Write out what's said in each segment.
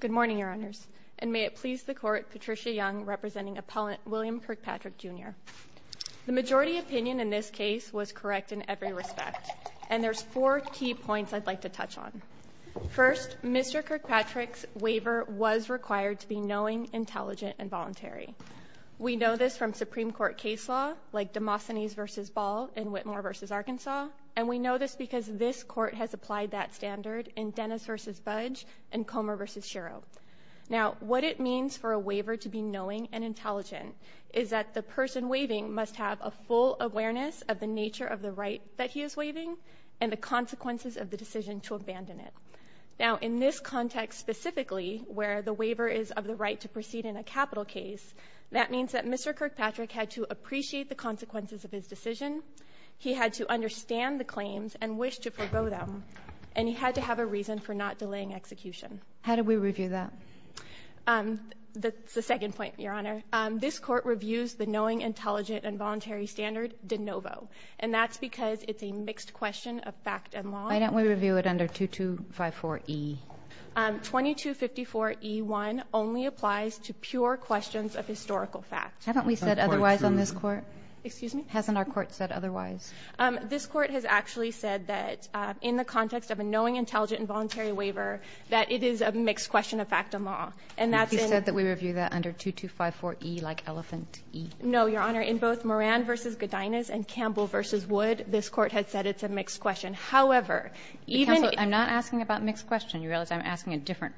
Good morning, Your Honors, and may it please the Court, Patricia Young, representing appellant William Kirkpatrick, Jr. The majority opinion in this case was correct in every respect, and there's four key points I'd like to touch on. First, Mr. Kirkpatrick's waiver was required to be knowing, intelligent, and voluntary. We know this from Supreme Court case law, like Demosthenes v. Ball and Whitmore v. Arkansas, and we know this because this Court has applied that standard in Dennis v. Budge and Comer v. Shero. Now, what it means for a waiver to be knowing and intelligent is that the person waiving must have a full awareness of the nature of the right that he is waiving and the consequences of the decision to abandon it. Now, in this context specifically, where the waiver is of the right to proceed in a capital case, that means that Mr. Kirkpatrick had to appreciate the consequences of his decision. He had to understand the claims and wish to forego them, and he had to have a reason for not delaying execution. How do we review that? That's the second point, Your Honor. This Court reviews the knowing, intelligent, and voluntary standard de novo, and that's because it's a mixed question of fact and law. Why don't we review it under 2254E? 2254E1 only applies to pure questions of historical fact. Haven't we said otherwise on this Court? Excuse me? Hasn't our Court said otherwise? This Court has actually said that, in the context of a knowing, intelligent, and voluntary waiver, that it is a mixed question of fact and law. And that's in — But you said that we review that under 2254E, like elephant E. No, Your Honor. In both Moran v. Godinez and Campbell v. Wood, this Court had said it's a mixed question. However, even — Counsel, I'm not asking about mixed question. You realize I'm asking a different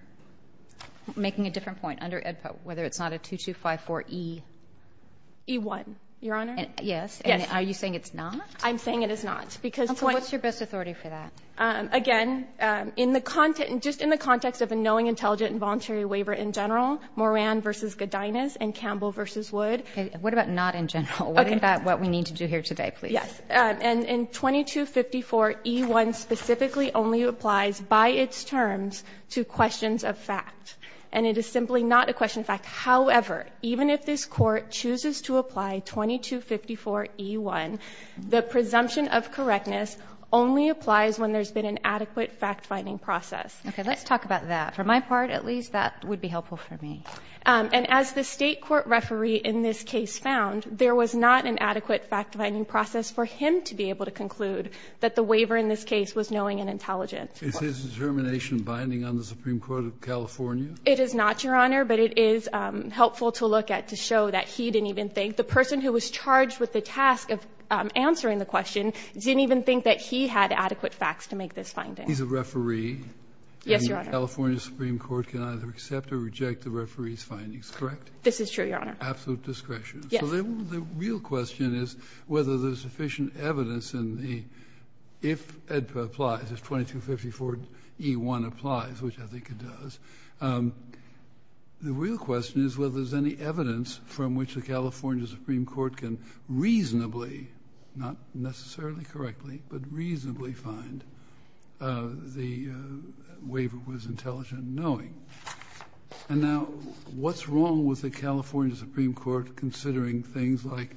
— making a different point under AEDPA, whether it's not a 2254E — E1, Your Honor. Yes. Yes. And are you saying it's not? I'm saying it is not, because — Counsel, what's your best authority for that? Again, in the — just in the context of a knowing, intelligent, and voluntary waiver in general, Moran v. Godinez and Campbell v. Wood — Okay. What about not in general? Okay. What about what we need to do here today, please? Yes. And in 2254E1 specifically only applies by its terms to questions of fact. And it is simply not a question of fact. However, even if this Court chooses to apply 2254E1, the presumption of correctness only applies when there's been an adequate fact-finding process. Okay. Let's talk about that. For my part, at least, that would be helpful for me. And as the State court referee in this case found, there was not an adequate fact-finding process for him to be able to conclude that the waiver in this case Is his determination binding on the Supreme Court of California? It is not, Your Honor, but it is helpful to look at to show that he didn't even think — the person who was charged with the task of answering the question didn't even think that he had adequate facts to make this finding. He's a referee. Yes, Your Honor. And the California Supreme Court can either accept or reject the referee's findings, correct? This is true, Your Honor. Absolute discretion. So then the real question is whether there's sufficient evidence in the — if AEDPA applies, if 2254E1 applies, which I think it does, the real question is whether there's any evidence from which the California Supreme Court can reasonably — not necessarily correctly, but reasonably — find the waiver was intelligent and knowing. And now, what's wrong with the California Supreme Court considering things like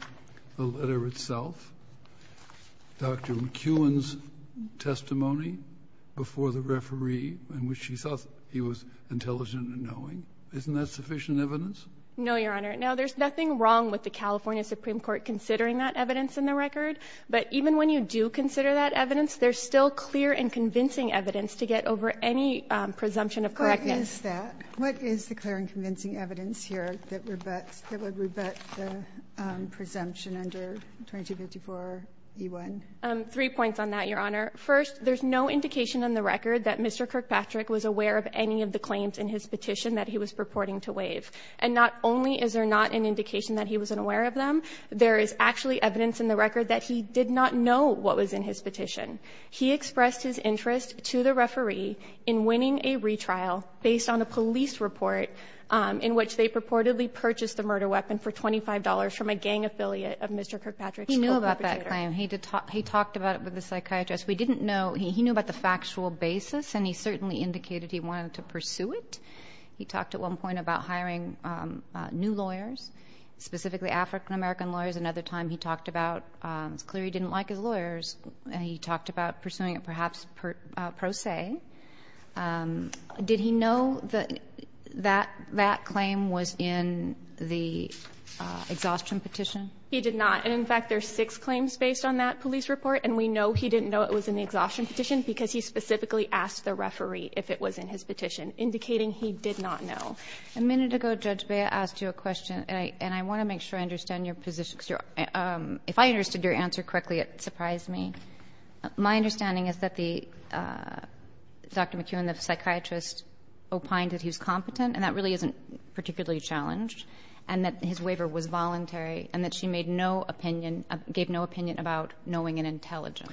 the letter itself? Dr. McEwen's testimony before the referee in which he thought he was intelligent and knowing, isn't that sufficient evidence? No, Your Honor. Now, there's nothing wrong with the California Supreme Court considering that evidence in the record, but even when you do consider that evidence, there's still clear and convincing evidence to get over any presumption of correctness. What is that? What is the clear and convincing evidence here that would rebut the presumption under 2254E1? Three points on that, Your Honor. First, there's no indication in the record that Mr. Kirkpatrick was aware of any of the claims in his petition that he was purporting to waive. And not only is there not an indication that he wasn't aware of them, there is actually evidence in the record that he did not know what was in his petition. He expressed his interest to the referee in winning a retrial based on a police report in which they purportedly purchased the murder weapon for $25 from a gang affiliate of Mr. Kirkpatrick. He knew about that claim. He talked about it with the psychiatrist. We didn't know. He knew about the factual basis, and he certainly indicated he wanted to pursue it. He talked at one point about hiring new lawyers, specifically African-American lawyers. Another time, he talked about it's clear he didn't like his lawyers, and he talked about pursuing it perhaps pro se. Did he know that that claim was in the exhaustion petition? He did not. And in fact, there are six claims based on that police report, and we know he didn't know it was in the exhaustion petition because he specifically asked the referee if it was in his petition, indicating he did not know. Kagan. A minute ago, Judge Bea asked you a question, and I want to make sure I understand your position, because if I understood your answer correctly, it surprised me. My understanding is that the Dr. McEwen, the psychiatrist, opined that he was competent, and that really isn't particularly challenged, and that his waiver was voluntary and that she made no opinion, gave no opinion about knowing and intelligence.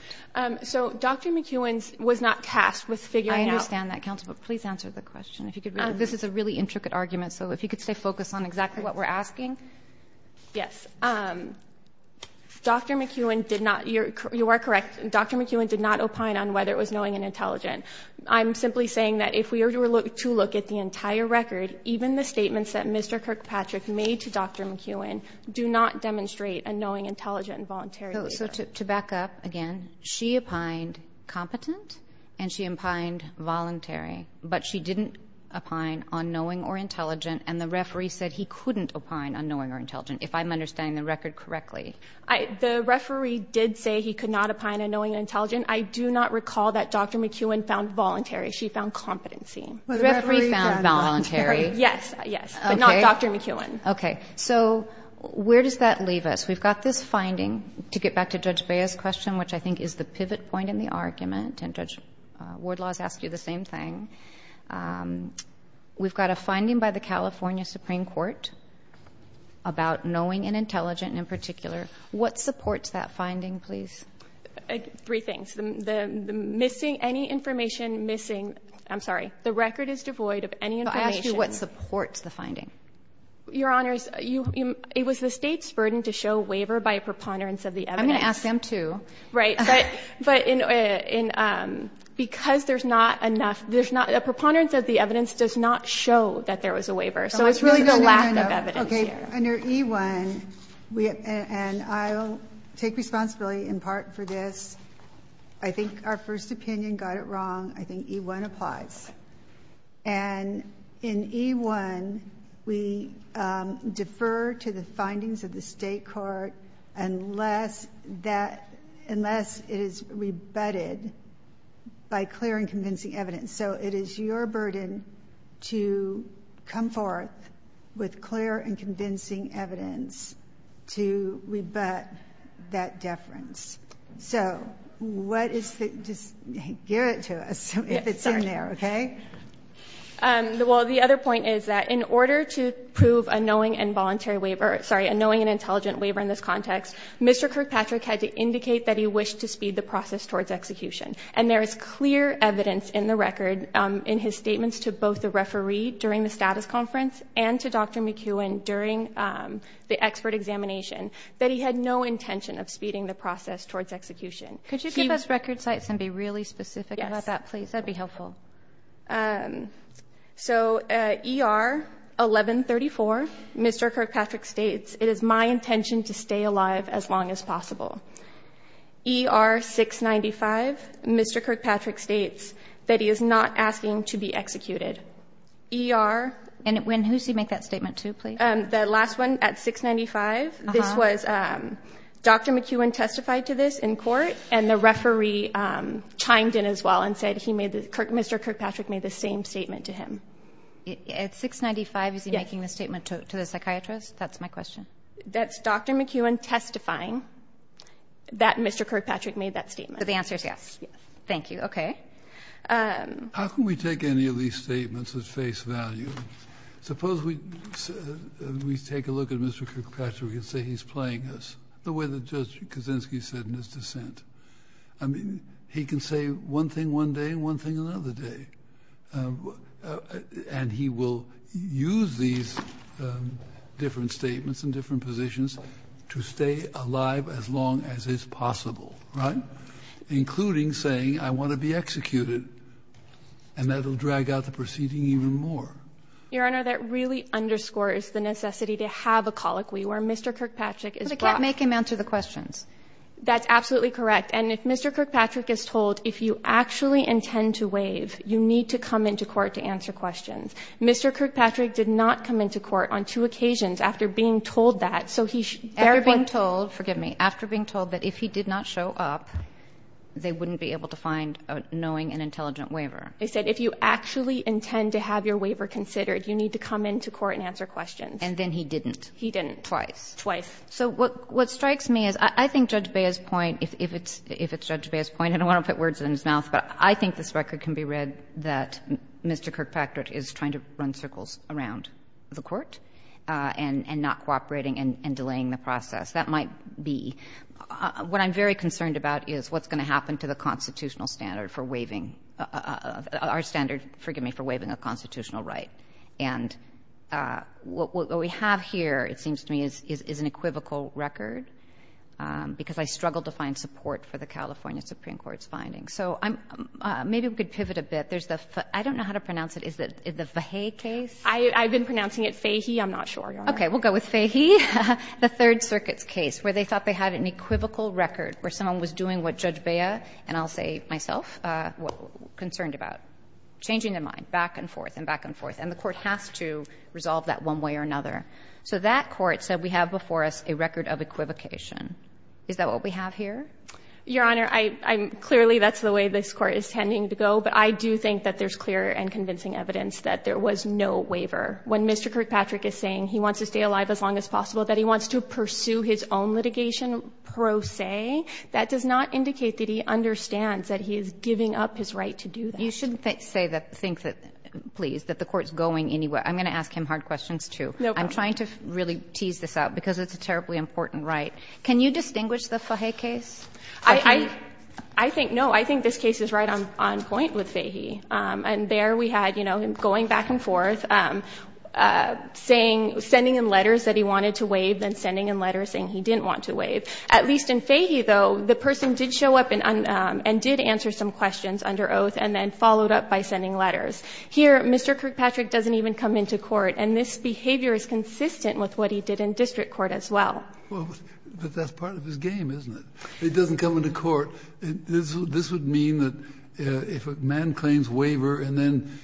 So Dr. McEwen was not tasked with figuring out. I understand that, counsel, but please answer the question. This is a really intricate argument, so if you could stay focused on exactly what we're asking. Yes. Dr. McEwen did not. You are correct. Dr. McEwen did not opine on whether it was knowing and intelligent. I'm simply saying that if we were to look at the entire record, even the statements that Mr. Kirkpatrick made to Dr. McEwen do not demonstrate a knowing, intelligent and voluntary waiver. So to back up again, she opined competent and she opined voluntary, but she didn't opine on knowing or intelligent, and the referee said he couldn't opine on knowing or intelligent, if I'm understanding the record correctly. The referee did say he could not opine on knowing and intelligent. I do not recall that Dr. McEwen found voluntary. She found competency. The referee found voluntary. Yes, yes, but not Dr. McEwen. Okay. So where does that leave us? We've got this finding. To get back to Judge Bea's question, which I think is the pivot point in the argument, and Judge Wardlaw has asked you the same thing, we've got a finding by the California Supreme Court about knowing and intelligent in particular. What supports that finding, please? Three things. The missing, any information missing, I'm sorry, the record is devoid of any information. What supports the finding? Your Honors, it was the State's burden to show waiver by a preponderance of the evidence. I'm going to ask them, too. Right. But because there's not enough, there's not, a preponderance of the evidence does not show that there was a waiver. So it's really the lack of evidence here. Okay. Under E-1, and I'll take responsibility in part for this. I think our first opinion got it wrong. I think E-1 applies. And in E-1, we defer to the findings of the State court unless that, unless it is rebutted by clear and convincing evidence. So it is your burden to come forth with clear and convincing evidence to rebut that deference. So what is the, just give it to us if it's in there, okay? Well, the other point is that in order to prove a knowing and voluntary waiver, sorry, a knowing and intelligent waiver in this context, Mr. Kirkpatrick had to indicate that he wished to speed the process towards execution. And there is clear evidence in the record in his statements to both the referee during the status conference and to Dr. McEwen during the expert examination that he had no intention of speeding the process towards execution. Could you give us record sites and be really specific about that, please? Yes. That would be helpful. So E-R 1134, Mr. Kirkpatrick states, it is my intention to stay alive as long as possible. E-R 695, Mr. Kirkpatrick states that he is not asking to be executed. E-R. And when, who does he make that statement to, please? The last one at 695, this was Dr. McEwen testified to this in court, and the referee chimed in as well and said he made the, Mr. Kirkpatrick made the same statement to him. At 695, is he making the statement to the psychiatrist? That's my question. That's Dr. McEwen testifying that Mr. Kirkpatrick made that statement. So the answer is yes. Yes. Thank you. Okay. How can we take any of these statements at face value? Suppose we take a look at Mr. Kirkpatrick and say he's playing us, the way that Judge Kaczynski said in his dissent. I mean, he can say one thing one day and one thing another day. And he will use these different statements and different positions to stay alive as long as is possible, right? Including saying I want to be executed, and that will drag out the proceeding even more. Your Honor, that really underscores the necessity to have a colloquy where Mr. Kirkpatrick is brought. But it can't make him answer the questions. That's absolutely correct. And if Mr. Kirkpatrick is told if you actually intend to waive, you need to come into court to answer questions. Mr. Kirkpatrick did not come into court on two occasions after being told that, so he therefore ---- After being told, forgive me, after being told that if he did not show up, they wouldn't be able to find a knowing and intelligent waiver. They said if you actually intend to have your waiver considered, you need to come into court and answer questions. And then he didn't. He didn't. Twice. Twice. So what strikes me is I think Judge Bea's point, if it's Judge Bea's point, and I don't want to put words in his mouth, but I think this record can be read that Mr. Kirkpatrick is trying to run circles around the Court and not cooperating and delaying the process. That might be. What I'm very concerned about is what's going to happen to the constitutional standard for waiving ---- our standard, forgive me, for waiving a constitutional right. And what we have here, it seems to me, is an equivocal record, because I struggled to find support for the California Supreme Court's findings. So I'm ---- maybe we could pivot a bit. There's the ---- I don't know how to pronounce it. Is it the Fahey case? I've been pronouncing it Fahey. I'm not sure, Your Honor. Okay. We'll go with Fahey. The Third Circuit's case where they thought they had an equivocal record, where someone was doing what Judge Bea, and I'll say myself, was concerned about, changing their mind back and forth and back and forth. And the Court has to resolve that one way or another. So that Court said we have before us a record of equivocation. Is that what we have here? Your Honor, I'm ---- clearly, that's the way this Court is tending to go. But I do think that there's clear and convincing evidence that there was no waiver. When Mr. Kirkpatrick is saying he wants to stay alive as long as possible, that he wants to pursue his own litigation pro se, that does not indicate that he understands that he is giving up his right to do that. You shouldn't say that, think that, please, that the Court's going anywhere. I'm going to ask him hard questions, too. No problem. I'm trying to really tease this out, because it's a terribly important right. Can you distinguish the Fahey case? I think no. I think this case is right on point with Fahey. And there we had, you know, him going back and forth, saying ---- sending him letters that he wanted to waive, then sending him letters saying he didn't want to waive. At least in Fahey, though, the person did show up and did answer some questions under oath and then followed up by sending letters. Here, Mr. Kirkpatrick doesn't even come into court. And this behavior is consistent with what he did in district court as well. Kennedy, but that's part of his game, isn't it? He doesn't come into court. This would mean that if a man claims waiver and then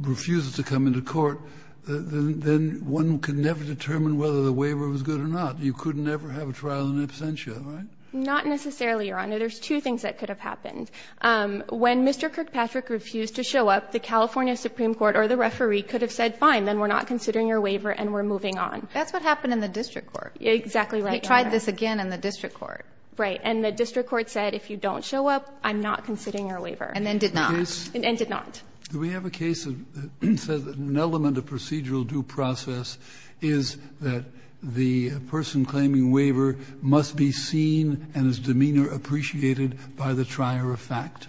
refuses to come into court, then one can never determine whether the waiver was good or not. You could never have a trial in absentia, right? Not necessarily, Your Honor. There's two things that could have happened. When Mr. Kirkpatrick refused to show up, the California Supreme Court or the referee could have said, fine, then we're not considering your waiver and we're moving on. That's what happened in the district court. Exactly right. He tried this again in the district court. Right. And the district court said, if you don't show up, I'm not considering your waiver. And then did not. And did not. Do we have a case that says an element of procedural due process is that the person claiming waiver must be seen and his demeanor appreciated by the trier of fact?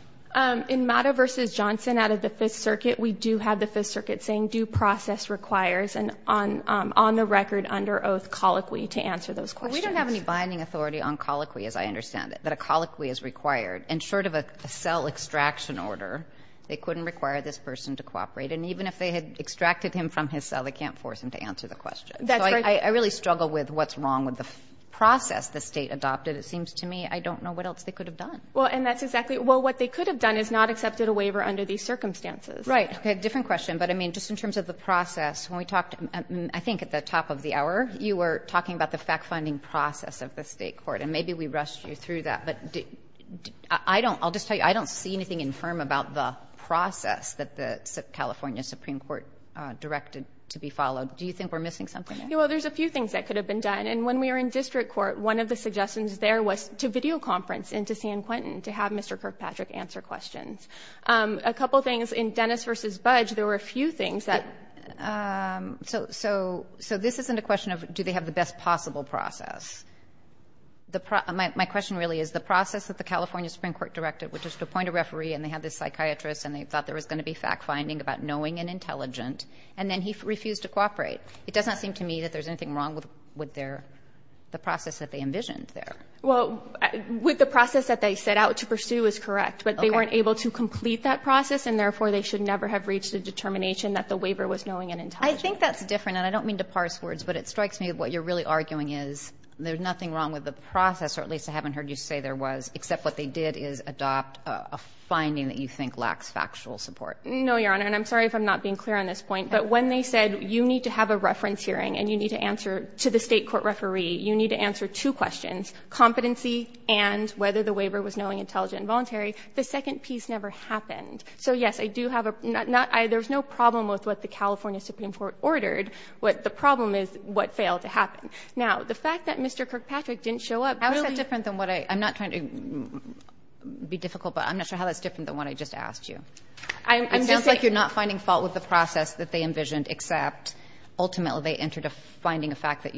In Matta v. Johnson out of the Fifth Circuit, we do have the Fifth Circuit saying due process requires an on the record, under oath colloquy to answer those questions. Well, we don't have any binding authority on colloquy, as I understand it, that a colloquy is required. And short of a cell extraction order, they couldn't require this person to cooperate. And even if they had extracted him from his cell, they can't force him to answer the question. That's right. So I really struggle with what's wrong with the process the State adopted. It seems to me I don't know what else they could have done. Well, and that's exactly. Well, what they could have done is not accepted a waiver under these circumstances. Right. Okay. Different question, but I mean, just in terms of the process, when we talked, I think at the top of the hour, you were talking about the fact-finding process of the State Supreme Court, and maybe we rushed you through that. But I don't, I'll just tell you, I don't see anything infirm about the process that the California Supreme Court directed to be followed. Do you think we're missing something there? Well, there's a few things that could have been done. And when we were in district court, one of the suggestions there was to videoconference and to see in Quentin to have Mr. Kirkpatrick answer questions. A couple things in Dennis v. Budge, there were a few things that. So this isn't a question of do they have the best possible process. My question really is the process that the California Supreme Court directed, which is to appoint a referee, and they had this psychiatrist, and they thought there was going to be fact-finding about knowing and intelligent, and then he refused to cooperate. It doesn't seem to me that there's anything wrong with their, the process that they envisioned there. Well, with the process that they set out to pursue is correct. Okay. But they weren't able to complete that process, and therefore, they should never have reached a determination that the waiver was knowing and intelligent. I think that's different, and I don't mean to parse words, but it strikes me what you're really arguing is there's nothing wrong with the process, or at least I haven't heard you say there was, except what they did is adopt a finding that you think lacks factual support. No, Your Honor. And I'm sorry if I'm not being clear on this point, but when they said you need to have a reference hearing and you need to answer to the State court referee, you need to answer two questions, competency and whether the waiver was knowing, intelligent and voluntary, the second piece never happened. So, yes, I do have a, not, there's no problem with what the California Supreme Court ordered, but the problem is what failed to happen. Now, the fact that Mr. Kirkpatrick didn't show up. How is that different than what I, I'm not trying to be difficult, but I'm not sure how that's different than what I just asked you. I'm just saying. It sounds like you're not finding fault with the process that they envisioned except ultimately they entered a finding of fact that,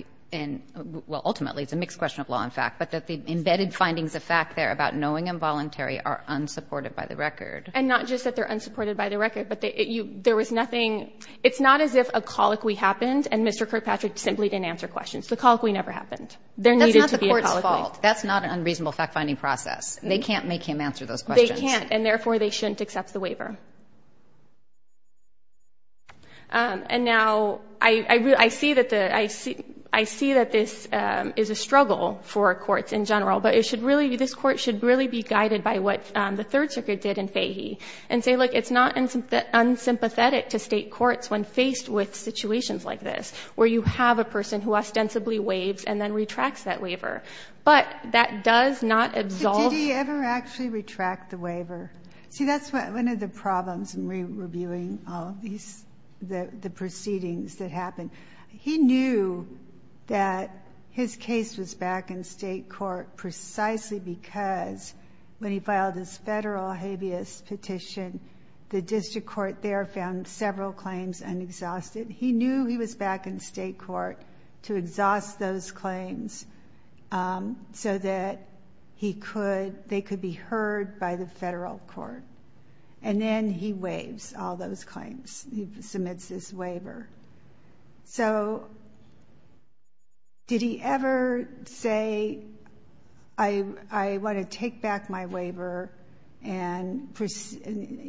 well, ultimately, it's a mixed question of law and fact, but that the embedded findings of fact there about knowing and voluntary are unsupported by the record. And not just that they're unsupported by the record, but there was nothing, it's not as if a colloquy happened and Mr. Kirkpatrick simply didn't answer questions. The colloquy never happened. That's not the court's fault. That's not an unreasonable fact-finding process. They can't make him answer those questions. They can't, and therefore, they shouldn't accept the waiver. And now, I see that the, I see that this is a struggle for courts in general, but it should really be guided by what the Third Circuit did in Fahy and say, look, it's not unsympathetic to state courts when faced with situations like this where you have a person who ostensibly waives and then retracts that waiver, but that does not absolve. Did he ever actually retract the waiver? See, that's one of the problems in reviewing all of these, the proceedings that happened. He knew that his case was back in state court precisely because when he filed his federal habeas petition, the district court there found several claims unexhausted. He knew he was back in state court to exhaust those claims so that he could, they could be heard by the federal court, and then he waives all those claims. He submits his waiver. So did he ever say, I want to take back my waiver and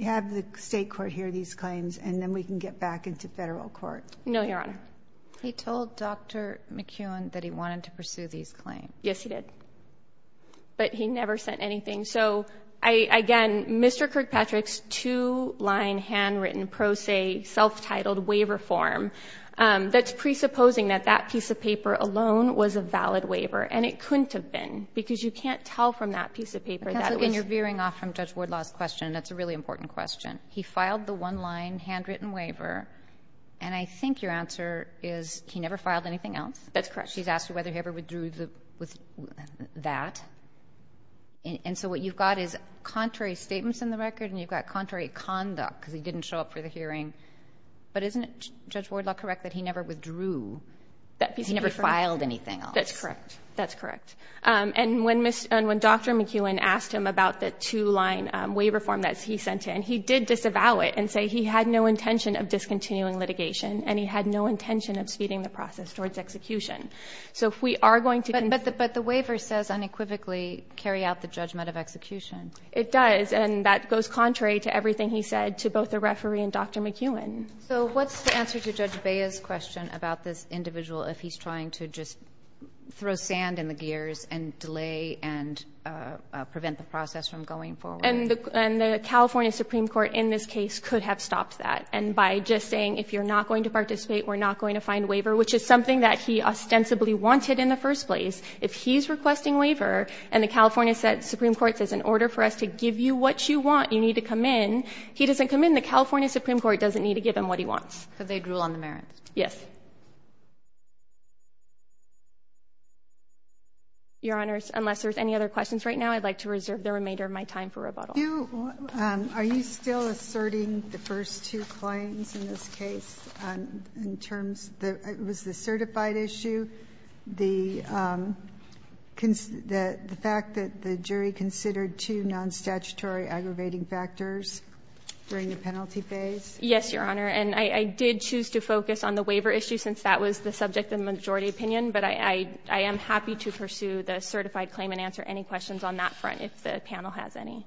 have the state court hear these claims, and then we can get back into federal court? No, Your Honor. He told Dr. McEwen that he wanted to pursue these claims. Yes, he did. But he never sent anything. So, again, Mr. Kirkpatrick's two-line handwritten pro se self-titled waiver form, that's presupposing that that piece of paper alone was a valid waiver, and it couldn't have been, because you can't tell from that piece of paper that it was. Kagan, you're veering off from Judge Wardlaw's question, and that's a really important question. He filed the one-line handwritten waiver, and I think your answer is he never filed anything else? That's correct. She's asking whether he ever withdrew that. And so what you've got is contrary statements in the record, and you've got contrary conduct, because he didn't show up for the hearing. But isn't it, Judge Wardlaw, correct that he never withdrew that piece of paper? He never filed anything else. That's correct. That's correct. And when Dr. McEwen asked him about the two-line waiver form that he sent in, he did disavow it and say he had no intention of discontinuing litigation, and he had no intention of speeding the process towards execution. But the waiver says unequivocally carry out the judgment of execution. It does, and that goes contrary to everything he said to both the referee and Dr. McEwen. So what's the answer to Judge Bea's question about this individual if he's trying to just throw sand in the gears and delay and prevent the process from going forward? And the California Supreme Court in this case could have stopped that, and by just saying if you're not going to participate, we're not going to find waiver, which is something that he ostensibly wanted in the first place. If he's requesting waiver, and the California Supreme Court says in order for us to give you what you want, you need to come in, he doesn't come in. The California Supreme Court doesn't need to give him what he wants. But they'd rule on the merits. Yes. Your Honors, unless there's any other questions right now, I'd like to reserve the remainder of my time for rebuttal. Are you still asserting the first two claims in this case in terms of the certified issue, the fact that the jury considered two non-statutory aggravating factors during the penalty phase? Yes, Your Honor. And I did choose to focus on the waiver issue since that was the subject of the majority opinion, but I am happy to pursue the certified claim and answer any questions on that front if the panel has any.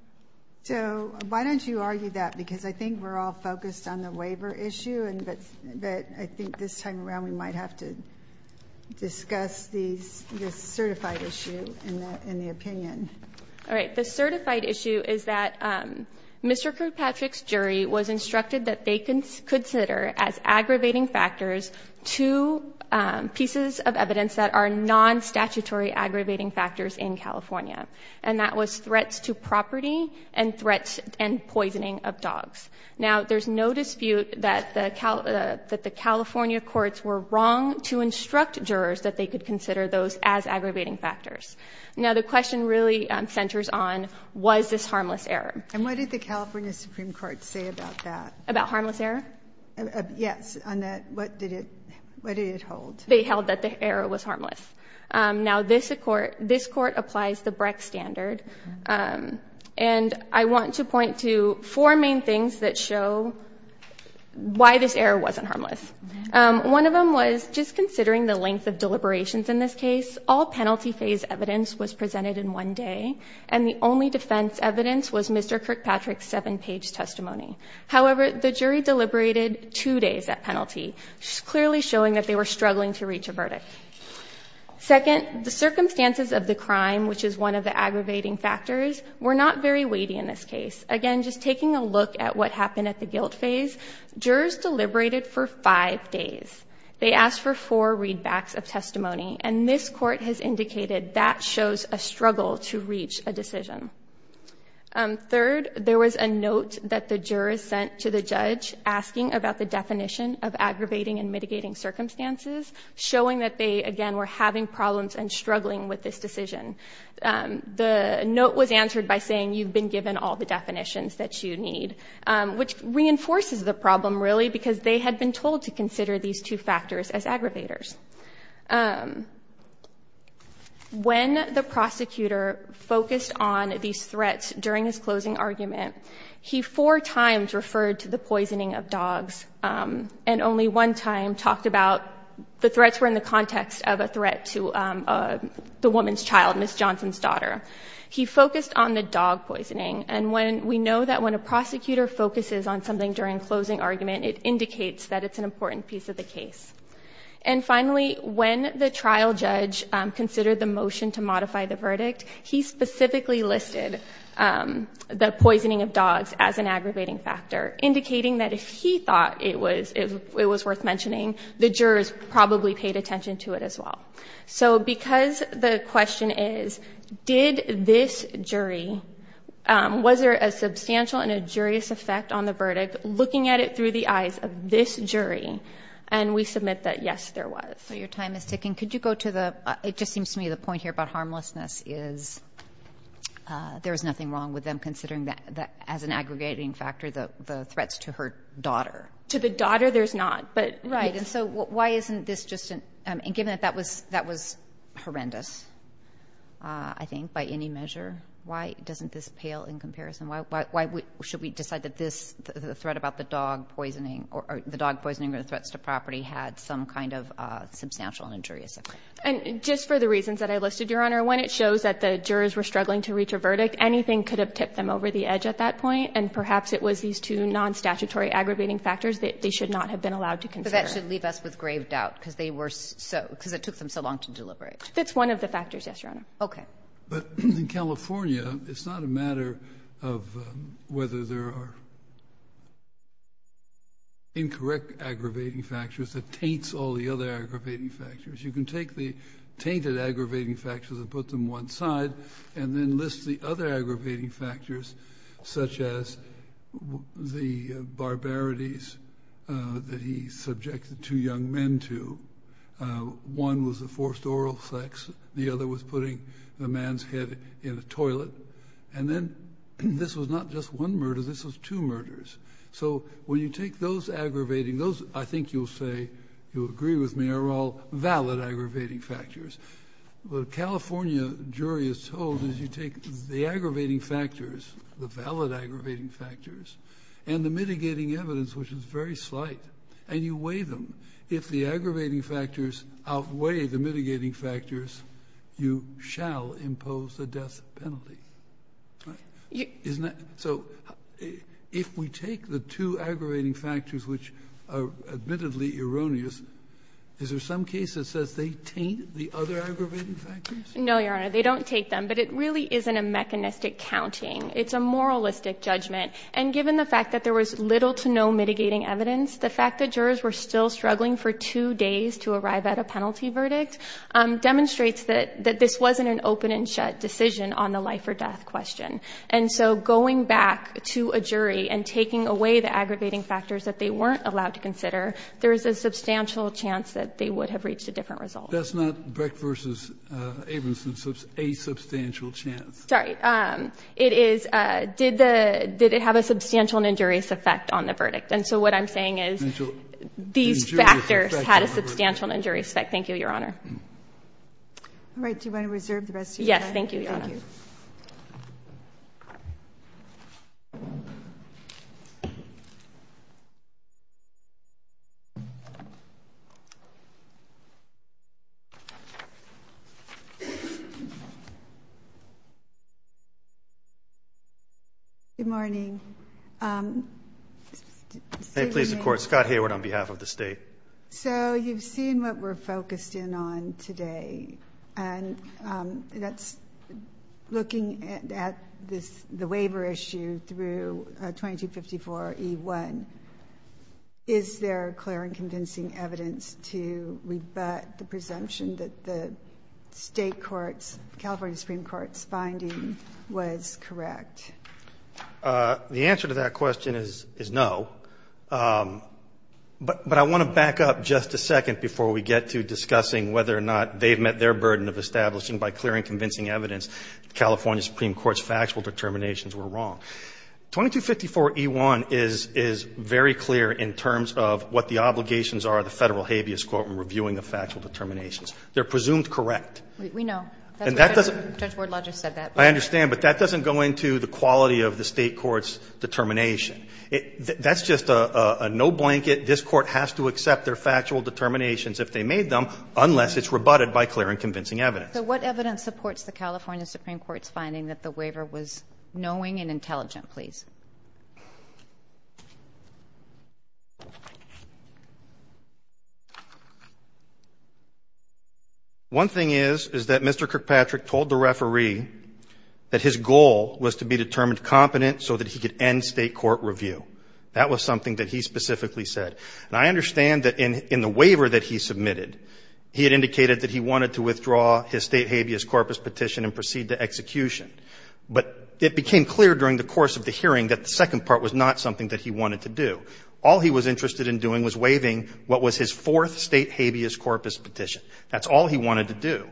So why don't you argue that? Because I think we're all focused on the waiver issue, but I think this time around we might have to discuss the certified issue and the opinion. All right. The certified issue is that Mr. Kirkpatrick's jury was instructed that they consider as aggravating factors two pieces of evidence that are non-statutory aggravating factors in California. And that was threats to property and threats and poisoning of dogs. Now, there's no dispute that the California courts were wrong to instruct jurors that they could consider those as aggravating factors. Now, the question really centers on was this harmless error. And what did the California Supreme Court say about that? About harmless error? Yes. They held that the error was harmless. Now, this court applies the Breck standard. And I want to point to four main things that show why this error wasn't harmless. One of them was just considering the length of deliberations in this case, all penalty phase evidence was presented in one day, and the only defense evidence was Mr. Kirkpatrick's seven-page testimony. However, the jury deliberated two days at penalty, clearly showing that they were struggling to reach a verdict. Second, the circumstances of the crime, which is one of the aggravating factors, were not very weighty in this case. Again, just taking a look at what happened at the guilt phase, jurors deliberated for five days. They asked for four readbacks of testimony. And this court has indicated that shows a struggle to reach a decision. Third, there was a note that the jurors sent to the judge asking about the definition of aggravating and mitigating circumstances, showing that they, again, were having problems and struggling with this decision. The note was answered by saying, you've been given all the definitions that you need, which reinforces the problem, really, because they had been told to consider these two factors as aggravators. When the prosecutor focused on these threats during his closing argument, he four times referred to the poisoning of dogs and only one time talked about the threats were in the context of a threat to the woman's child, Ms. Johnson's daughter. He focused on the dog poisoning. And we know that when a prosecutor focuses on something during closing argument, it indicates that it's an important piece of the case. And finally, when the trial judge considered the motion to modify the verdict, he specifically listed the poisoning of dogs as an aggravating factor, indicating that if he thought it was worth mentioning, the jurors probably paid attention to it as well. So because the question is, did this jury, was there a substantial and a jurious effect on the verdict, looking at it through the eyes of this jury, and we submit that, yes, there was. So your time is ticking. Could you go to the, it just seems to me the point here about harmlessness is there's nothing wrong with them considering that as an aggregating factor, the threats to her daughter. To the daughter, there's not, but. Right, and so why isn't this just, and given that that was horrendous, I think, by any measure, why doesn't this pale in comparison? Why should we decide that this, the threat about the dog poisoning, or the dog poisoning or the threats to property had some kind of substantial and injurious effect? And just for the reasons that I listed, Your Honor, when it shows that the jurors were struggling to reach a verdict, anything could have tipped them over the edge at that point, and perhaps it was these two non-statutory aggravating factors that they should not have been allowed to consider. But that should leave us with grave doubt, because they were so, because it took them so long to deliberate. That's one of the factors, yes, Your Honor. Okay. But in California, it's not a matter of whether there are. Incorrect aggravating factors that taints all the other aggravating factors. You can take the tainted aggravating factors and put them one side and then list the other aggravating factors, such as the barbarities that he subjected two young men to. One was a forced oral sex. The other was putting the man's head in a toilet. And then this was not just one murder. This was two murders. So when you take those aggravating, those, I think you'll say, you'll agree with me, are all valid aggravating factors. What a California jury is told is you take the aggravating factors, the valid aggravating factors, and the mitigating evidence, which is very slight, and you weigh them. If the aggravating factors outweigh the mitigating factors, you shall impose a death penalty. Isn't that so? If we take the two aggravating factors, which are admittedly erroneous, is there some case that says they taint the other aggravating factors? No, Your Honor. They don't taint them. But it really isn't a mechanistic counting. It's a moralistic judgment. And given the fact that there was little to no mitigating evidence, the fact that jurors were still struggling for two days to arrive at a penalty verdict demonstrates that this wasn't an open and shut decision on the life or death question. And so going back to a jury and taking away the aggregating factors that they weren't allowed to consider, there is a substantial chance that they would have reached a different result. That's not Brecht v. Abramson's asubstantial chance. Sorry. It is, did it have a substantial and injurious effect on the verdict? And so what I'm saying is these factors had a substantial and injurious effect. Thank you, Your Honor. All right. Do you want to reserve the rest of your time? Yes. Thank you, Your Honor. Thank you. Good morning. Say your name. Scott Hayward on behalf of the State. So you've seen what we're focused in on today, and that's looking at this, the waiver issue through 2254E1. Is there clear and convincing evidence to rebut the presumption that the State courts, California Supreme Court's finding was correct? The answer to that question is no. But I want to back up just a second before we get to discussing whether or not they've met their burden of establishing by clear and convincing evidence the California Supreme Court's factual determinations were wrong. 2254E1 is very clear in terms of what the obligations are of the Federal habeas court in reviewing the factual determinations. They're presumed correct. We know. And that doesn't go into the quality of the State court's determination. That's just a no-blanket. This Court has to accept their factual determinations if they made them, unless it's rebutted by clear and convincing evidence. So what evidence supports the California Supreme Court's finding that the waiver was knowing and intelligent, please? One thing is, is that Mr. Kirkpatrick told the referee that his goal was to be determined competent so that he could end State court review. That was something that he specifically said. And I understand that in the waiver that he submitted, he had indicated that he wanted to withdraw his State habeas corpus petition and proceed to execution. But it became clear during the course of the hearing that the second part was not something that he wanted to do. All he was interested in doing was waiving what was his fourth State habeas corpus petition. That's all he wanted to do.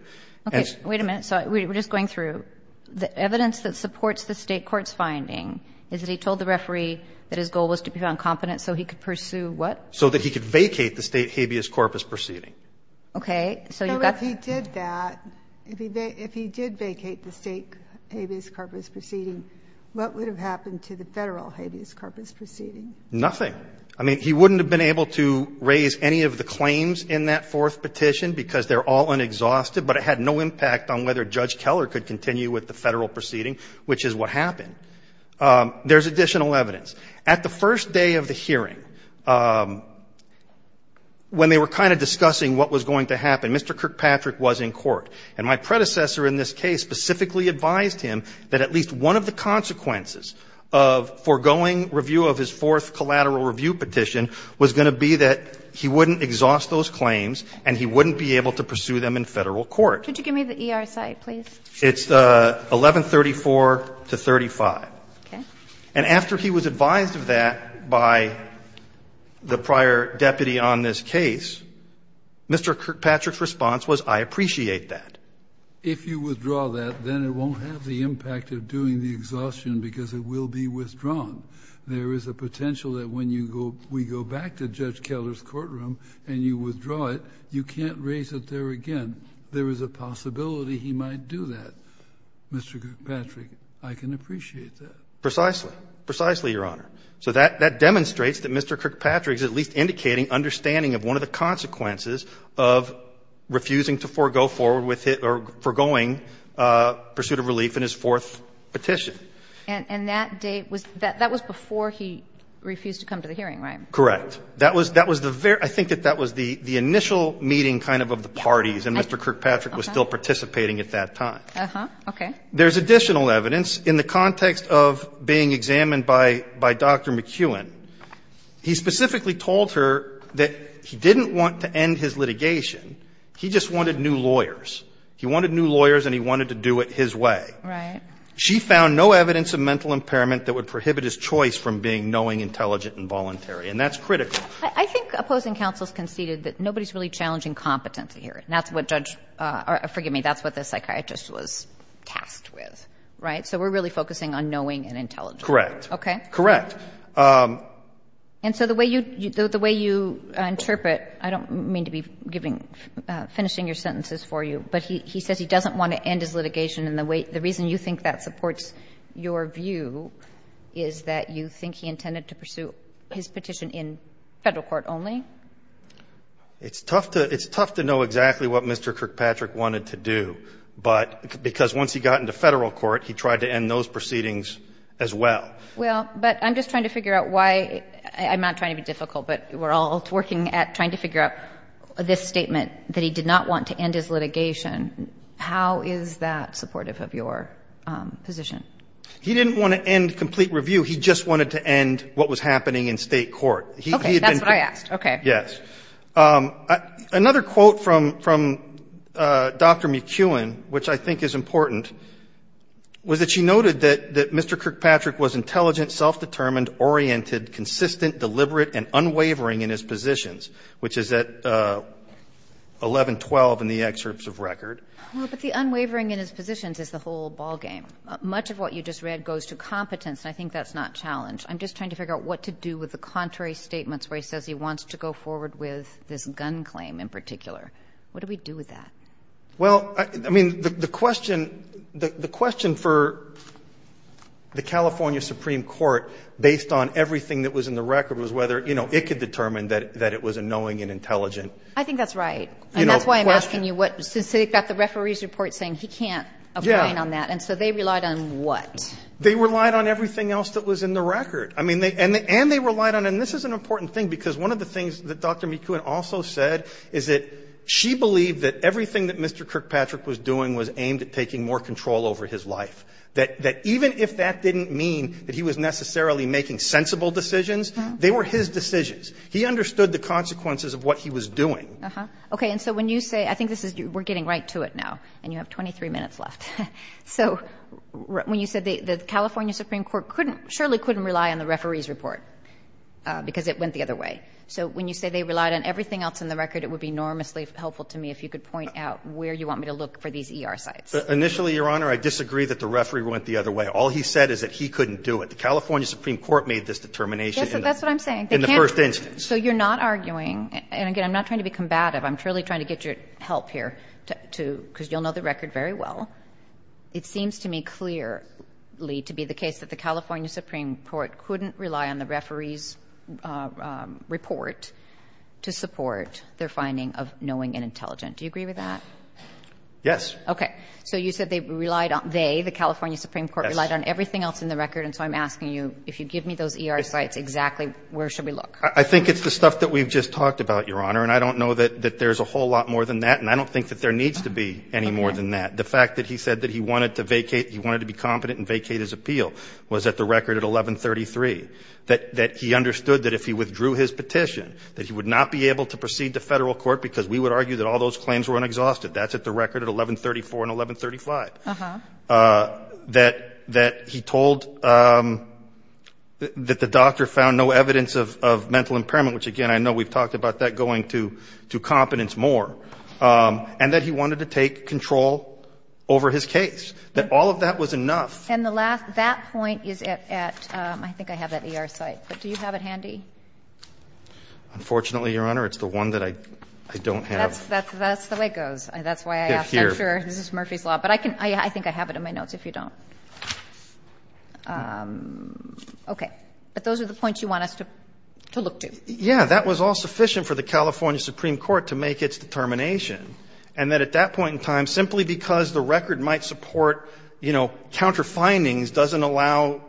Okay. Wait a minute. So we're just going through. The evidence that supports the State court's finding is that he told the referee that his goal was to be found competent so he could pursue what? So that he could vacate the State habeas corpus proceeding. Okay. So you've got to do that. But if he did that, if he did vacate the State habeas corpus proceeding, what would have happened to the Federal habeas corpus proceeding? Nothing. I mean, he wouldn't have been able to raise any of the claims in that fourth petition because they're all unexhausted, but it had no impact on whether Judge Keller could continue with the Federal proceeding, which is what happened. There's additional evidence. At the first day of the hearing, when they were kind of discussing what was going to happen, Mr. Kirkpatrick was in court. And my predecessor in this case specifically advised him that at least one of the consequences of foregoing review of his fourth collateral review petition was going to be that he wouldn't exhaust those claims and he wouldn't be able to pursue them in Federal court. Could you give me the ER site, please? It's 1134 to 35. Okay. And after he was advised of that by the prior deputy on this case, Mr. Kirkpatrick's response was, I appreciate that. If you withdraw that, then it won't have the impact of doing the exhaustion because it will be withdrawn. There is a potential that when you go we go back to Judge Keller's courtroom and you withdraw it, you can't raise it there again. There is a possibility he might do that. Mr. Kirkpatrick, I can appreciate that. Precisely. Precisely, Your Honor. So that demonstrates that Mr. Kirkpatrick is at least indicating understanding of one of the consequences of refusing to forego forward with his or foregoing pursuit of relief in his fourth petition. And that date was before he refused to come to the hearing, right? Correct. I think that that was the initial meeting kind of of the parties and Mr. Kirkpatrick was still participating at that time. Okay. There is additional evidence in the context of being examined by Dr. McEwen. He specifically told her that he didn't want to end his litigation. He just wanted new lawyers. He wanted new lawyers and he wanted to do it his way. Right. She found no evidence of mental impairment that would prohibit his choice from being knowing, intelligent, and voluntary. And that's critical. I think opposing counsel has conceded that nobody is really challenging competency here. And that's what Judge or forgive me, that's what the psychiatrist was tasked with. Right? So we're really focusing on knowing and intelligence. Correct. Okay? Correct. And so the way you interpret, I don't mean to be giving, finishing your sentences for you, but he says he doesn't want to end his litigation. And the reason you think that supports your view is that you think he intended to pursue his petition in Federal court only? It's tough to know exactly what Mr. Kirkpatrick wanted to do. But because once he got into Federal court, he tried to end those proceedings as well. Well, but I'm just trying to figure out why. I'm not trying to be difficult, but we're all working at trying to figure out this statement that he did not want to end his litigation. How is that supportive of your position? He didn't want to end complete review. He just wanted to end what was happening in State court. Okay. That's what I asked. Okay. Yes. Another quote from Dr. McEwen, which I think is important, was that she noted that Mr. Kirkpatrick was intelligent, self-determined, oriented, consistent, deliberate, and unwavering in his positions, which is at 1112 in the excerpts of record. Well, but the unwavering in his positions is the whole ballgame. Much of what you just read goes to competence, and I think that's not challenged. I'm just trying to figure out what to do with the contrary statements where he says he wants to go forward with this gun claim in particular. What do we do with that? Well, I mean, the question for the California Supreme Court, based on everything that was in the record, was whether, you know, it could determine that it was unknowing and intelligent. I think that's right. And that's why I'm asking you what, since they've got the referee's report saying he can't agree on that. Yeah. And so they relied on what? They relied on everything else that was in the record. I mean, and they relied on, and this is an important thing, because one of the things that Dr. McEwen also said is that she believed that everything that Mr. Kirkpatrick was doing was aimed at taking more control over his life, that even if that didn't mean that he was necessarily making sensible decisions, they were his decisions. He understood the consequences of what he was doing. Okay. And so when you say, I think this is, we're getting right to it now, and you have 23 minutes left. So when you said the California Supreme Court couldn't, surely couldn't rely on the referee's report because it went the other way. So when you say they relied on everything else in the record, it would be enormously helpful to me if you could point out where you want me to look for these ER sites. Initially, Your Honor, I disagree that the referee went the other way. All he said is that he couldn't do it. The California Supreme Court made this determination in the first instance. Yes, that's what I'm saying. So you're not arguing, and again, I'm not trying to be combative. I'm really trying to get your help here, because you'll know the record very well. It seems to me clearly to be the case that the California Supreme Court couldn't rely on the referee's report to support their finding of knowing and intelligent. Do you agree with that? Yes. Okay. So you said they relied on the California Supreme Court relied on everything else in the record. And so I'm asking you, if you give me those ER sites, exactly where should we look? I think it's the stuff that we've just talked about, Your Honor. And I don't know that there's a whole lot more than that, and I don't think that there needs to be any more than that. The fact that he said that he wanted to vacate, he wanted to be competent and vacate his appeal was at the record at 1133. That he understood that if he withdrew his petition, that he would not be able to proceed to Federal court, because we would argue that all those claims were unexhausted. That's at the record at 1134 and 1135. Uh-huh. That he told that the doctor found no evidence of mental impairment, which, again, I know we've talked about that going to competence more. And that he wanted to take control over his case. That all of that was enough. And that point is at, I think I have that ER site. But do you have it handy? Unfortunately, Your Honor, it's the one that I don't have. That's the way it goes. That's why I asked. I'm sure this is Murphy's law. But I think I have it in my notes, if you don't. Okay. But those are the points you want us to look to. Yeah. That was all sufficient for the California Supreme Court to make its determination. And that at that point in time, simply because the record might support, you know, counter findings doesn't allow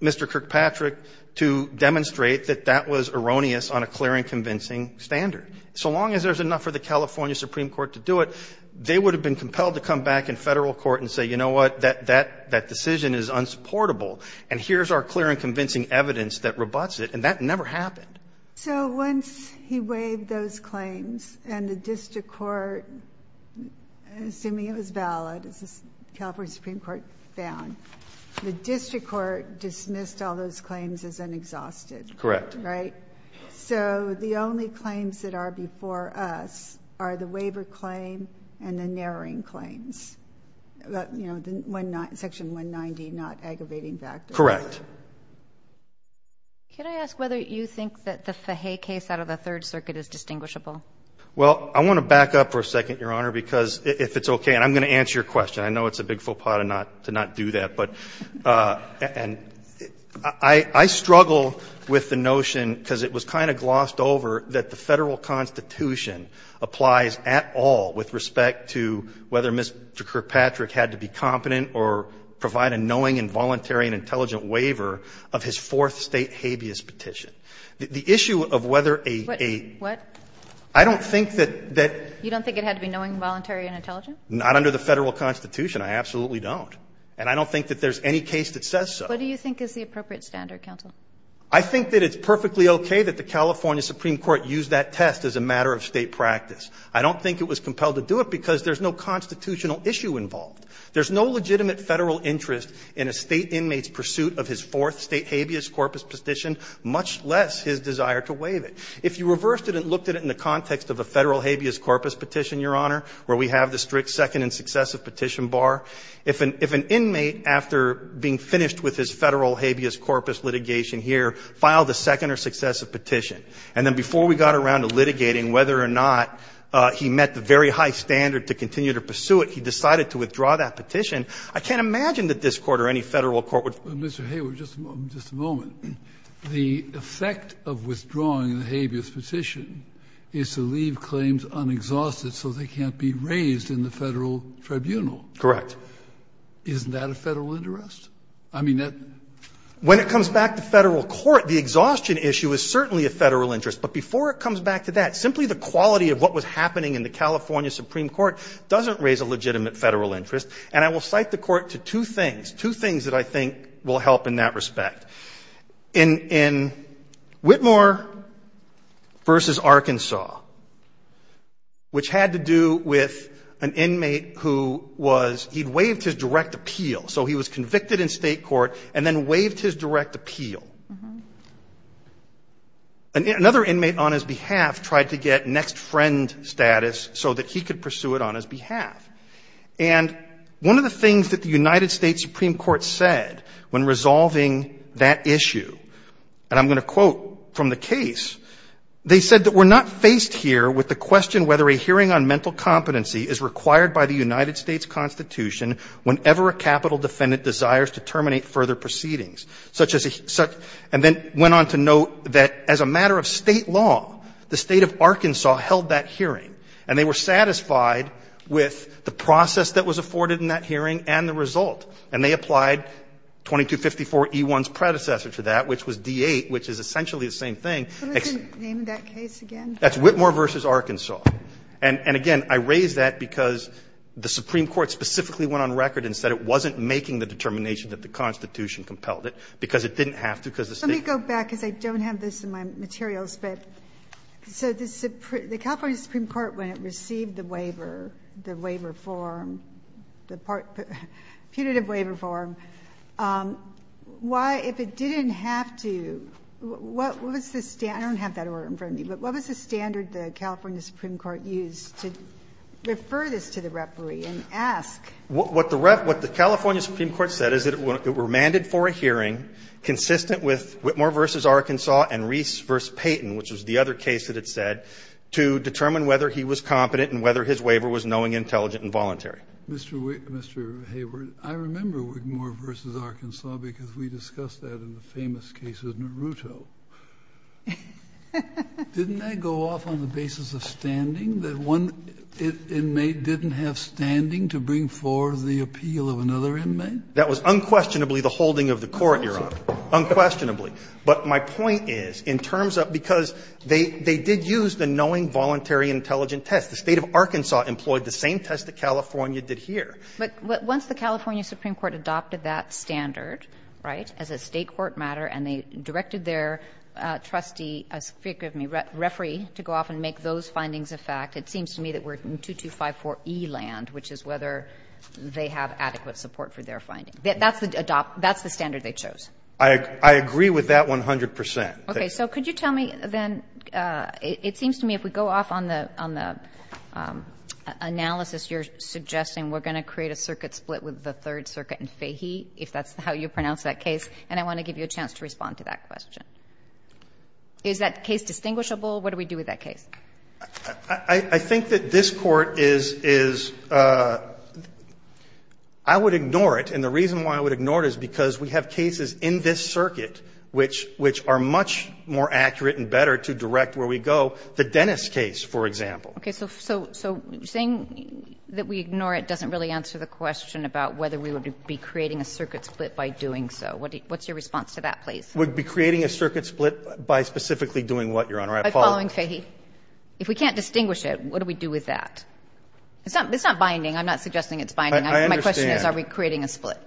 Mr. Kirkpatrick to demonstrate that that was erroneous on a clear and convincing standard. So long as there's enough for the California Supreme Court to do it, they would have been compelled to come back in Federal court and say, you know what, that decision is unsupportable. And here's our clear and convincing evidence that rebutts it. And that never happened. So once he waived those claims and the district court, assuming it was valid, as the California Supreme Court found, the district court dismissed all those claims as unexhausted. Correct. So the only claims that are before us are the waiver claim and the narrowing claims. You know, the section 190, not aggravating factors. Correct. Can I ask whether you think that the Fahey case out of the Third Circuit is distinguishable? Well, I want to back up for a second, Your Honor, because if it's okay. And I'm going to answer your question. I know it's a big faux pas to not do that. But I struggle with the notion, because it was kind of glossed over, that the Federal Constitution applies at all with respect to whether Mr. Kirkpatrick had to be competent or provide a knowing and voluntary and intelligent waiver of his Fourth State habeas petition. The issue of whether a. What? I don't think that. You don't think it had to be knowing, voluntary and intelligent? Not under the Federal Constitution. I absolutely don't. And I don't think that there's any case that says so. What do you think is the appropriate standard, counsel? I think that it's perfectly okay that the California Supreme Court used that test as a matter of State practice. I don't think it was compelled to do it because there's no constitutional issue involved. There's no legitimate Federal interest in a State inmate's pursuit of his Fourth State habeas corpus petition, much less his desire to waive it. If you reversed it and looked at it in the context of a Federal habeas corpus petition, Your Honor, where we have the strict second and successive petition bar. If an inmate, after being finished with his Federal habeas corpus litigation here, filed a second or successive petition, and then before we got around to litigating whether or not he met the very high standard to continue to pursue it, he decided to withdraw that petition, I can't imagine that this Court or any Federal court would Mr. Hayward, just a moment. The effect of withdrawing the habeas petition is to leave claims unexhausted so they can't be raised in the Federal tribunal. Correct. Isn't that a Federal interest? I mean, that's When it comes back to Federal court, the exhaustion issue is certainly a Federal interest. But before it comes back to that, simply the quality of what was happening in the California Supreme Court doesn't raise a legitimate Federal interest. And I will cite the Court to two things, two things that I think will help in that respect. In Whitmore v. Arkansas, which had to do with an inmate who was, he'd waived his direct appeal, so he was convicted in State court and then waived his direct appeal. Another inmate on his behalf tried to get next friend status so that he could pursue it on his behalf. And one of the things that the United States Supreme Court said when resolving that issue, and I'm going to quote from the case, they said that we're not faced here with the question whether a hearing on mental competency is required by the United States Constitution whenever a capital defendant desires to terminate further proceedings. And then went on to note that as a matter of State law, the State of Arkansas held that hearing, and they were satisfied with the process that was afforded in that hearing and the result. And they applied 2254 E-1's predecessor to that, which was D-8, which is essentially the same thing. Ginsburg. Can you name that case again? That's Whitmore v. Arkansas. And again, I raise that because the Supreme Court specifically went on record and said it wasn't making the determination that the Constitution compelled it, because it didn't have to, because the State. Let me go back, because I don't have this in my materials, but so the California Supreme Court, when it received the waiver, the waiver form, the punitive waiver form, why, if it didn't have to, what was the standard? I don't have that order in front of me, but what was the standard the California Supreme Court used to refer this to the referee and ask? What the California Supreme Court said is that it were mandated for a hearing consistent with Whitmore v. Arkansas and Reese v. Payton, which was the other case that it said, to determine whether he was competent and whether his waiver was knowing, intelligent, and voluntary. Mr. Hayward, I remember Whitmore v. Arkansas, because we discussed that in the famous case of Naruto. Didn't that go off on the basis of standing, that one inmate didn't have standing to bring forward the appeal of another inmate? That was unquestionably the holding of the court, Your Honor, unquestionably. But my point is, in terms of the case, because they did use the knowing, voluntary, intelligent test. The State of Arkansas employed the same test that California did here. But once the California Supreme Court adopted that standard, right, as a State court matter, and they directed their trustee, excuse me, referee to go off and make those findings a fact, it seems to me that we're in 2254e land, which is whether they have adequate support for their finding. That's the standard they chose. I agree with that 100 percent. Okay. So could you tell me then, it seems to me if we go off on the analysis you're suggesting, we're going to create a circuit split with the Third Circuit in Fahey, if that's how you pronounce that case, and I want to give you a chance to respond to that question. Is that case distinguishable? What do we do with that case? I think that this Court is – I would ignore it, and the reason why I would ignore it is because we have cases in this circuit which are much more accurate and better to direct where we go. The Dennis case, for example. Okay. So saying that we ignore it doesn't really answer the question about whether we would be creating a circuit split by doing so. What's your response to that, please? We'd be creating a circuit split by specifically doing what, Your Honor? By following Fahey. If we can't distinguish it, what do we do with that? It's not binding. I'm not suggesting it's binding. I understand. My question is are we creating a split?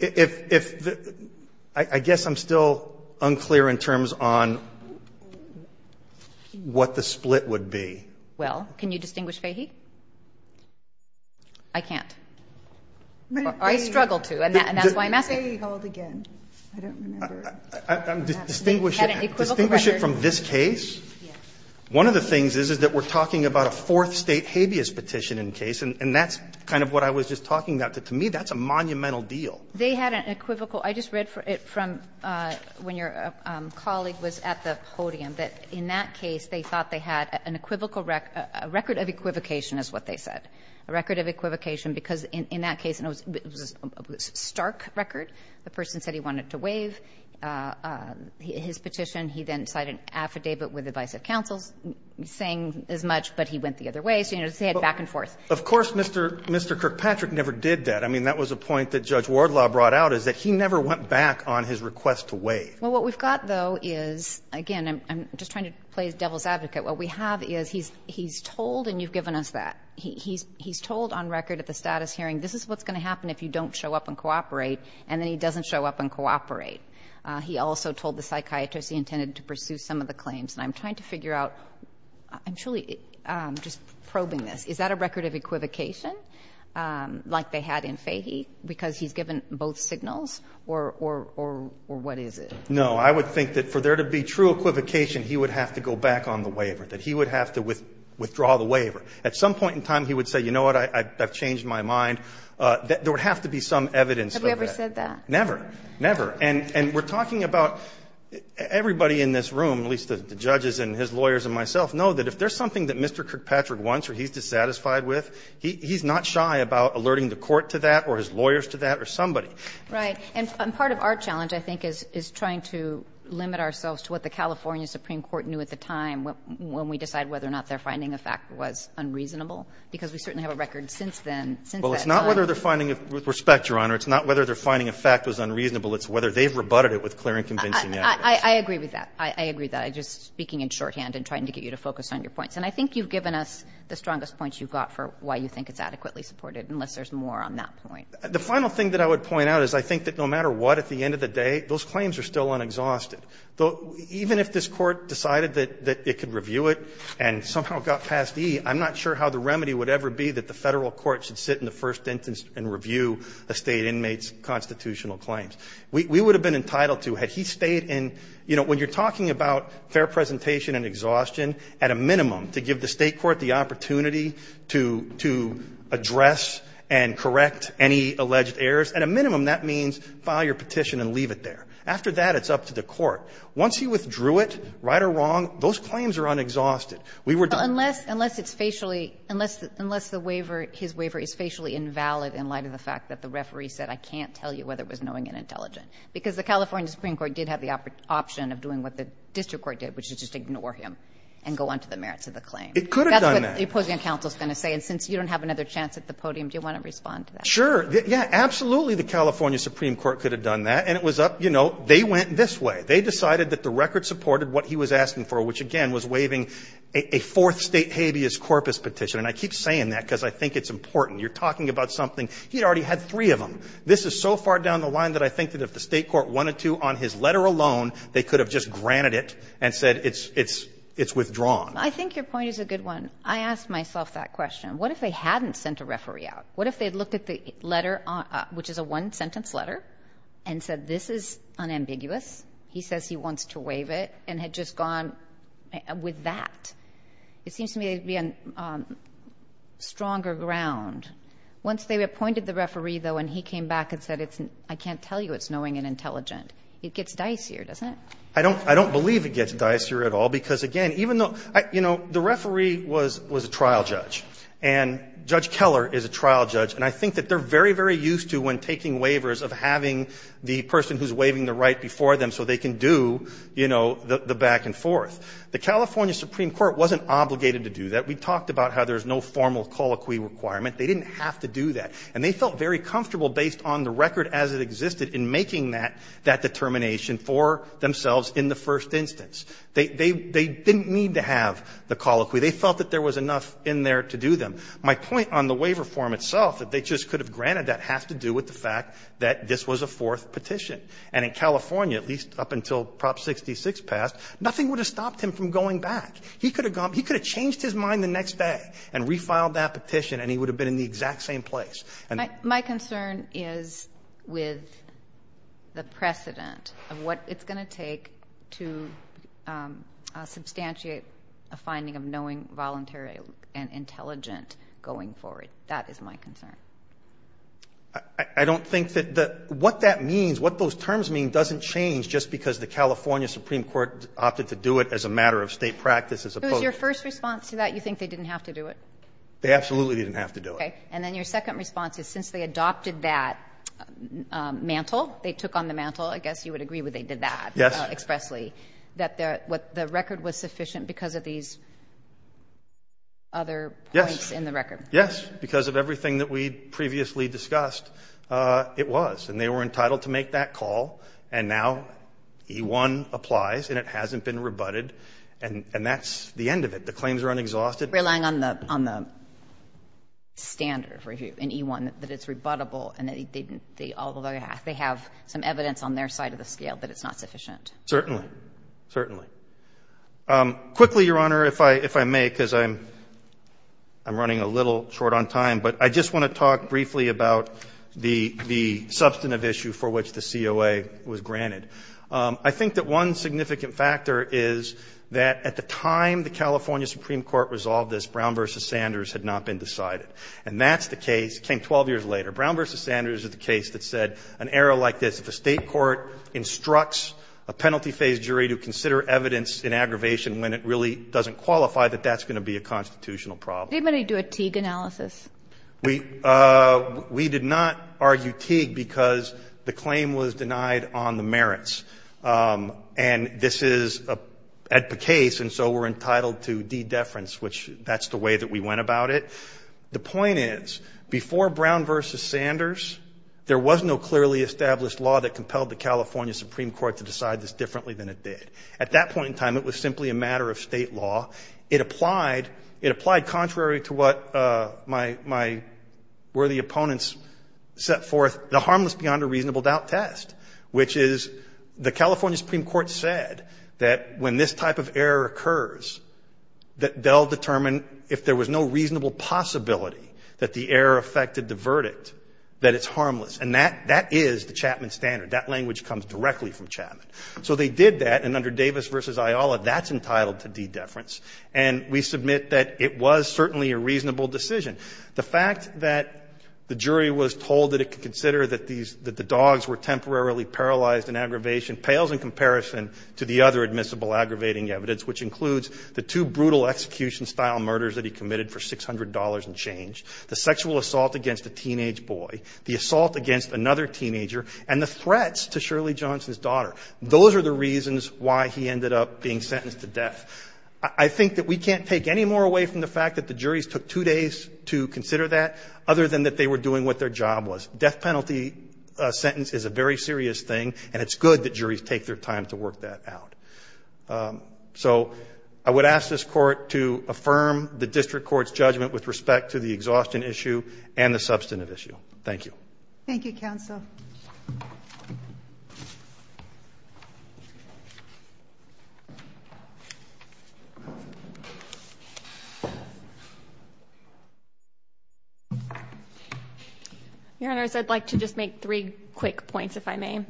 If the – I guess I'm still unclear in terms on what the split would be. Well, can you distinguish Fahey? I can't. I struggle to, and that's why I'm asking. But Fahey held again. I don't remember. Distinguish it from this case? Yes. One of the things is, is that we're talking about a Fourth State habeas petition in case, and that's kind of what I was just talking about. To me, that's a monumental deal. They had an equivocal – I just read it from when your colleague was at the podium, that in that case, they thought they had an equivocal – a record of equivocation is what they said, a record of equivocation, because in that case, it was a stark record. The person said he wanted to waive his petition. He then signed an affidavit with the vice of counsel saying as much, but he went the other way. He had back and forth. Of course, Mr. Kirkpatrick never did that. I mean, that was a point that Judge Wardlaw brought out, is that he never went back on his request to waive. Well, what we've got, though, is, again, I'm just trying to play devil's advocate. What we have is he's told, and you've given us that, he's told on record at the status hearing, this is what's going to happen if you don't show up and cooperate, and then he doesn't show up and cooperate. He also told the psychiatrist he intended to pursue some of the claims. And I'm trying to figure out, I'm truly just probing this. Is that a record of equivocation, like they had in Fahy, because he's given both signals, or what is it? No. I would think that for there to be true equivocation, he would have to go back on the waiver, that he would have to withdraw the waiver. At some point in time, he would say, you know what, I've changed my mind. There would have to be some evidence for that. Have you ever said that? Never. Never. And we're talking about everybody in this room, at least the judges and his lawyers and myself, know that if there's something that Mr. Kirkpatrick wants or he's dissatisfied with, he's not shy about alerting the court to that or his lawyers to that or somebody. Right. And part of our challenge, I think, is trying to limit ourselves to what the California Supreme Court knew at the time when we decided whether or not they're finding a fact was unreasonable, because we certainly have a record since then, since that time. Well, it's not whether they're finding it with respect, Your Honor. It's not whether they're finding a fact was unreasonable. It's whether they've rebutted it with clear and convincing evidence. I agree with that. I agree with that. I'm just speaking in shorthand and trying to get you to focus on your points. And I think you've given us the strongest points you've got for why you think it's adequately supported, unless there's more on that point. The final thing that I would point out is I think that no matter what, at the end of the day, those claims are still unexhausted. Even if this Court decided that it could review it and somehow got past E, I'm not sure how the remedy would ever be that the Federal court should sit in the first instance and review a State inmate's constitutional claims. We would have been entitled to, had he stayed in, you know, when you're talking about fair presentation and exhaustion, at a minimum, to give the State court the opportunity to address and correct any alleged errors, at a minimum, that means file your petition and leave it there. After that, it's up to the court. Once you withdrew it, right or wrong, those claims are unexhausted. We were done. Unless it's facially – unless the waiver, his waiver is facially invalid in light of the fact that the referee said, I can't tell you whether it was knowing and intelligent, because the California Supreme Court did have the option of doing what the district court did, which is just ignore him and go on to the merits of the claim. It could have done that. That's what the opposing counsel is going to say. And since you don't have another chance at the podium, do you want to respond to that? Sure. Yeah, absolutely, the California Supreme Court could have done that. And it was up – you know, they went this way. They decided that the record supported what he was asking for, which, again, was waiving a fourth State habeas corpus petition. And I keep saying that because I think it's important. You're talking about something – he had already had three of them. This is so far down the line that I think that if the State court wanted to, on his letter alone, they could have just granted it and said it's withdrawn. I think your point is a good one. I asked myself that question. What if they hadn't sent a referee out? What if they had looked at the letter, which is a one-sentence letter, and said this is unambiguous, he says he wants to waive it, and had just gone with that? It seems to me there would be a stronger ground. Once they appointed the referee, though, and he came back and said it's – I can't tell you it's knowing and intelligent. It gets dicier, doesn't it? I don't – I don't believe it gets dicier at all, because, again, even though – you know, the referee was a trial judge, and Judge Keller is a trial judge, and I think that they're very, very used to, when taking waivers, of having the person who's waiving the right before them so they can do, you know, the back and forth. The California Supreme Court wasn't obligated to do that. We talked about how there's no formal colloquy requirement. They didn't have to do that. And they felt very comfortable, based on the record as it existed, in making that determination for themselves in the first instance. They didn't need to have the colloquy. They felt that there was enough in there to do them. My point on the waiver form itself, that they just could have granted that, has to do with the fact that this was a fourth petition. And in California, at least up until Prop 66 passed, nothing would have stopped him from going back. He could have gone – he could have changed his mind the next day and refiled that petition, and he would have been in the exact same place. My concern is with the precedent of what it's going to take to substantiate a finding of knowing, voluntary, and intelligent going forward. That is my concern. I don't think that the – what that means, what those terms mean, doesn't change just because the California Supreme Court opted to do it as a matter of State practice as opposed to the other. It was your first response to that, you think they didn't have to do it? They absolutely didn't have to do it. Okay. And then your second response is, since they adopted that mantle, they took on the mantle, I guess you would agree they did that expressly, that the record was sufficient because of these other points in the record. Yes. Because of everything that we previously discussed, it was. And they were entitled to make that call, and now E-1 applies, and it hasn't been rebutted, and that's the end of it. The claims are unexhausted. Relying on the standard review in E-1, that it's rebuttable, and they have some evidence on their side of the scale that it's not sufficient. Certainly. Certainly. Quickly, Your Honor, if I may, because I'm running a little short on time, but I just want to talk briefly about the substantive issue for which the COA was granted. I think that one significant factor is that at the time the California Supreme Court resolved this, Brown v. Sanders had not been decided. And that's the case, came 12 years later. Brown v. Sanders is the case that said an error like this, if a State court instructs a penalty phase jury to consider evidence in aggravation when it really doesn't qualify, that that's going to be a constitutional problem. Did anybody do a Teague analysis? We did not argue Teague because the claim was denied on the merits. And this is at the case, and so we're entitled to de-deference, which that's the way that we went about it. The point is, before Brown v. Sanders, there was no clearly established law that compelled the California Supreme Court to decide this differently than it did. At that point in time, it was simply a matter of State law. It applied contrary to what my worthy opponents set forth, the harmless-beyond-a-reasonable-doubt test, which is the California Supreme Court said that when this type of error occurs, that they'll determine if there was no reasonable possibility that the error affected the verdict, that it's harmless. And that is the Chapman standard. That language comes directly from Chapman. So they did that, and under Davis v. Ayala, that's entitled to de-deference. And we submit that it was certainly a reasonable decision. The fact that the jury was told that it could consider that these – that the dogs were temporarily paralyzed in aggravation pales in comparison to the other admissible aggravating evidence, which includes the two brutal execution-style murders that he committed for $600 and change, the sexual assault against a teenage boy, the assault against another teenager, and the threats to Shirley Johnson's daughter, those are the reasons why he ended up being sentenced to death. I think that we can't take any more away from the fact that the juries took two days to consider that, other than that they were doing what their job was. Death penalty sentence is a very serious thing, and it's good that juries take their time to work that out. So I would ask this Court to affirm the district court's judgment with respect to the exhaustion issue and the substantive issue. Thank you. Thank you, counsel. Your Honors, I'd like to just make three quick points, if I may.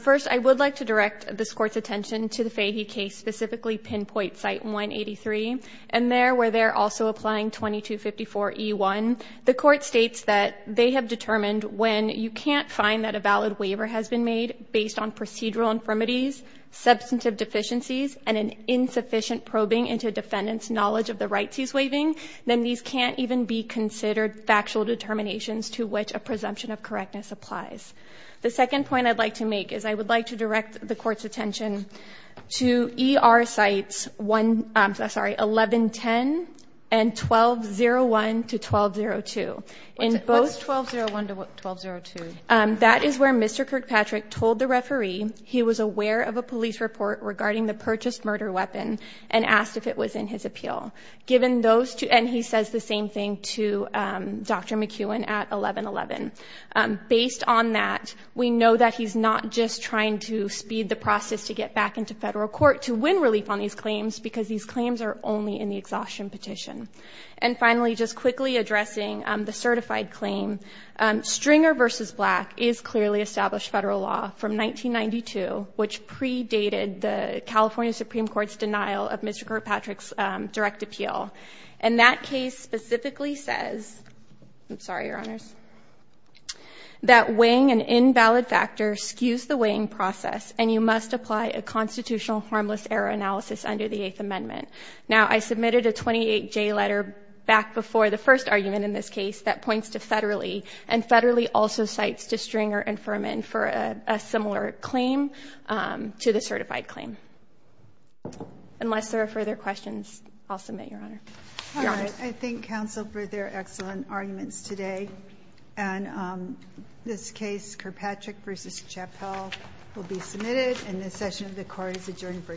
First, I would like to direct this Court's attention to the Fahy case, specifically Pinpoint Site 183, and there, where they're also applying 2254E1. The Court states that they have determined when you can't find that a valid waiver has been made based on procedural infirmities, substantive deficiencies, and an insufficient probing into a defendant's knowledge of the rights he's waiving, then these can't even be considered factual determinations to which a presumption of correctness applies. The second point I'd like to make is I would like to direct the Court's attention to ER Sites 1110 and 1201-1202. What's 1201-1202? That is where Mr. Kirkpatrick told the referee he was aware of a police report regarding the purchased murder weapon and asked if it was in his appeal, and he says the same thing to Dr. McEwen at 1111. Based on that, we know that he's not just trying to speed the process to get back into federal court to win relief on these claims, because these claims are only in the exhaustion petition. And finally, just quickly addressing the certified claim, Stringer v. Black is clearly established federal law from 1992, which predated the California Supreme Court's denial of Mr. Kirkpatrick's direct appeal. And that case specifically says — I'm sorry, Your Honors — that weighing an invalid factor skews the weighing process, and you must apply a constitutional harmless error analysis under the Eighth Amendment. Now, I submitted a 28J letter back before the first argument in this case that points to Federley, and Federley also cites to Stringer and Furman for a similar claim to the certified claim. Unless there are further questions, I'll submit, Your Honor. Your Honors. I thank counsel for their excellent arguments today. And this case, Kirkpatrick v. Chappell, will be submitted, and this session of the court is adjourned for today.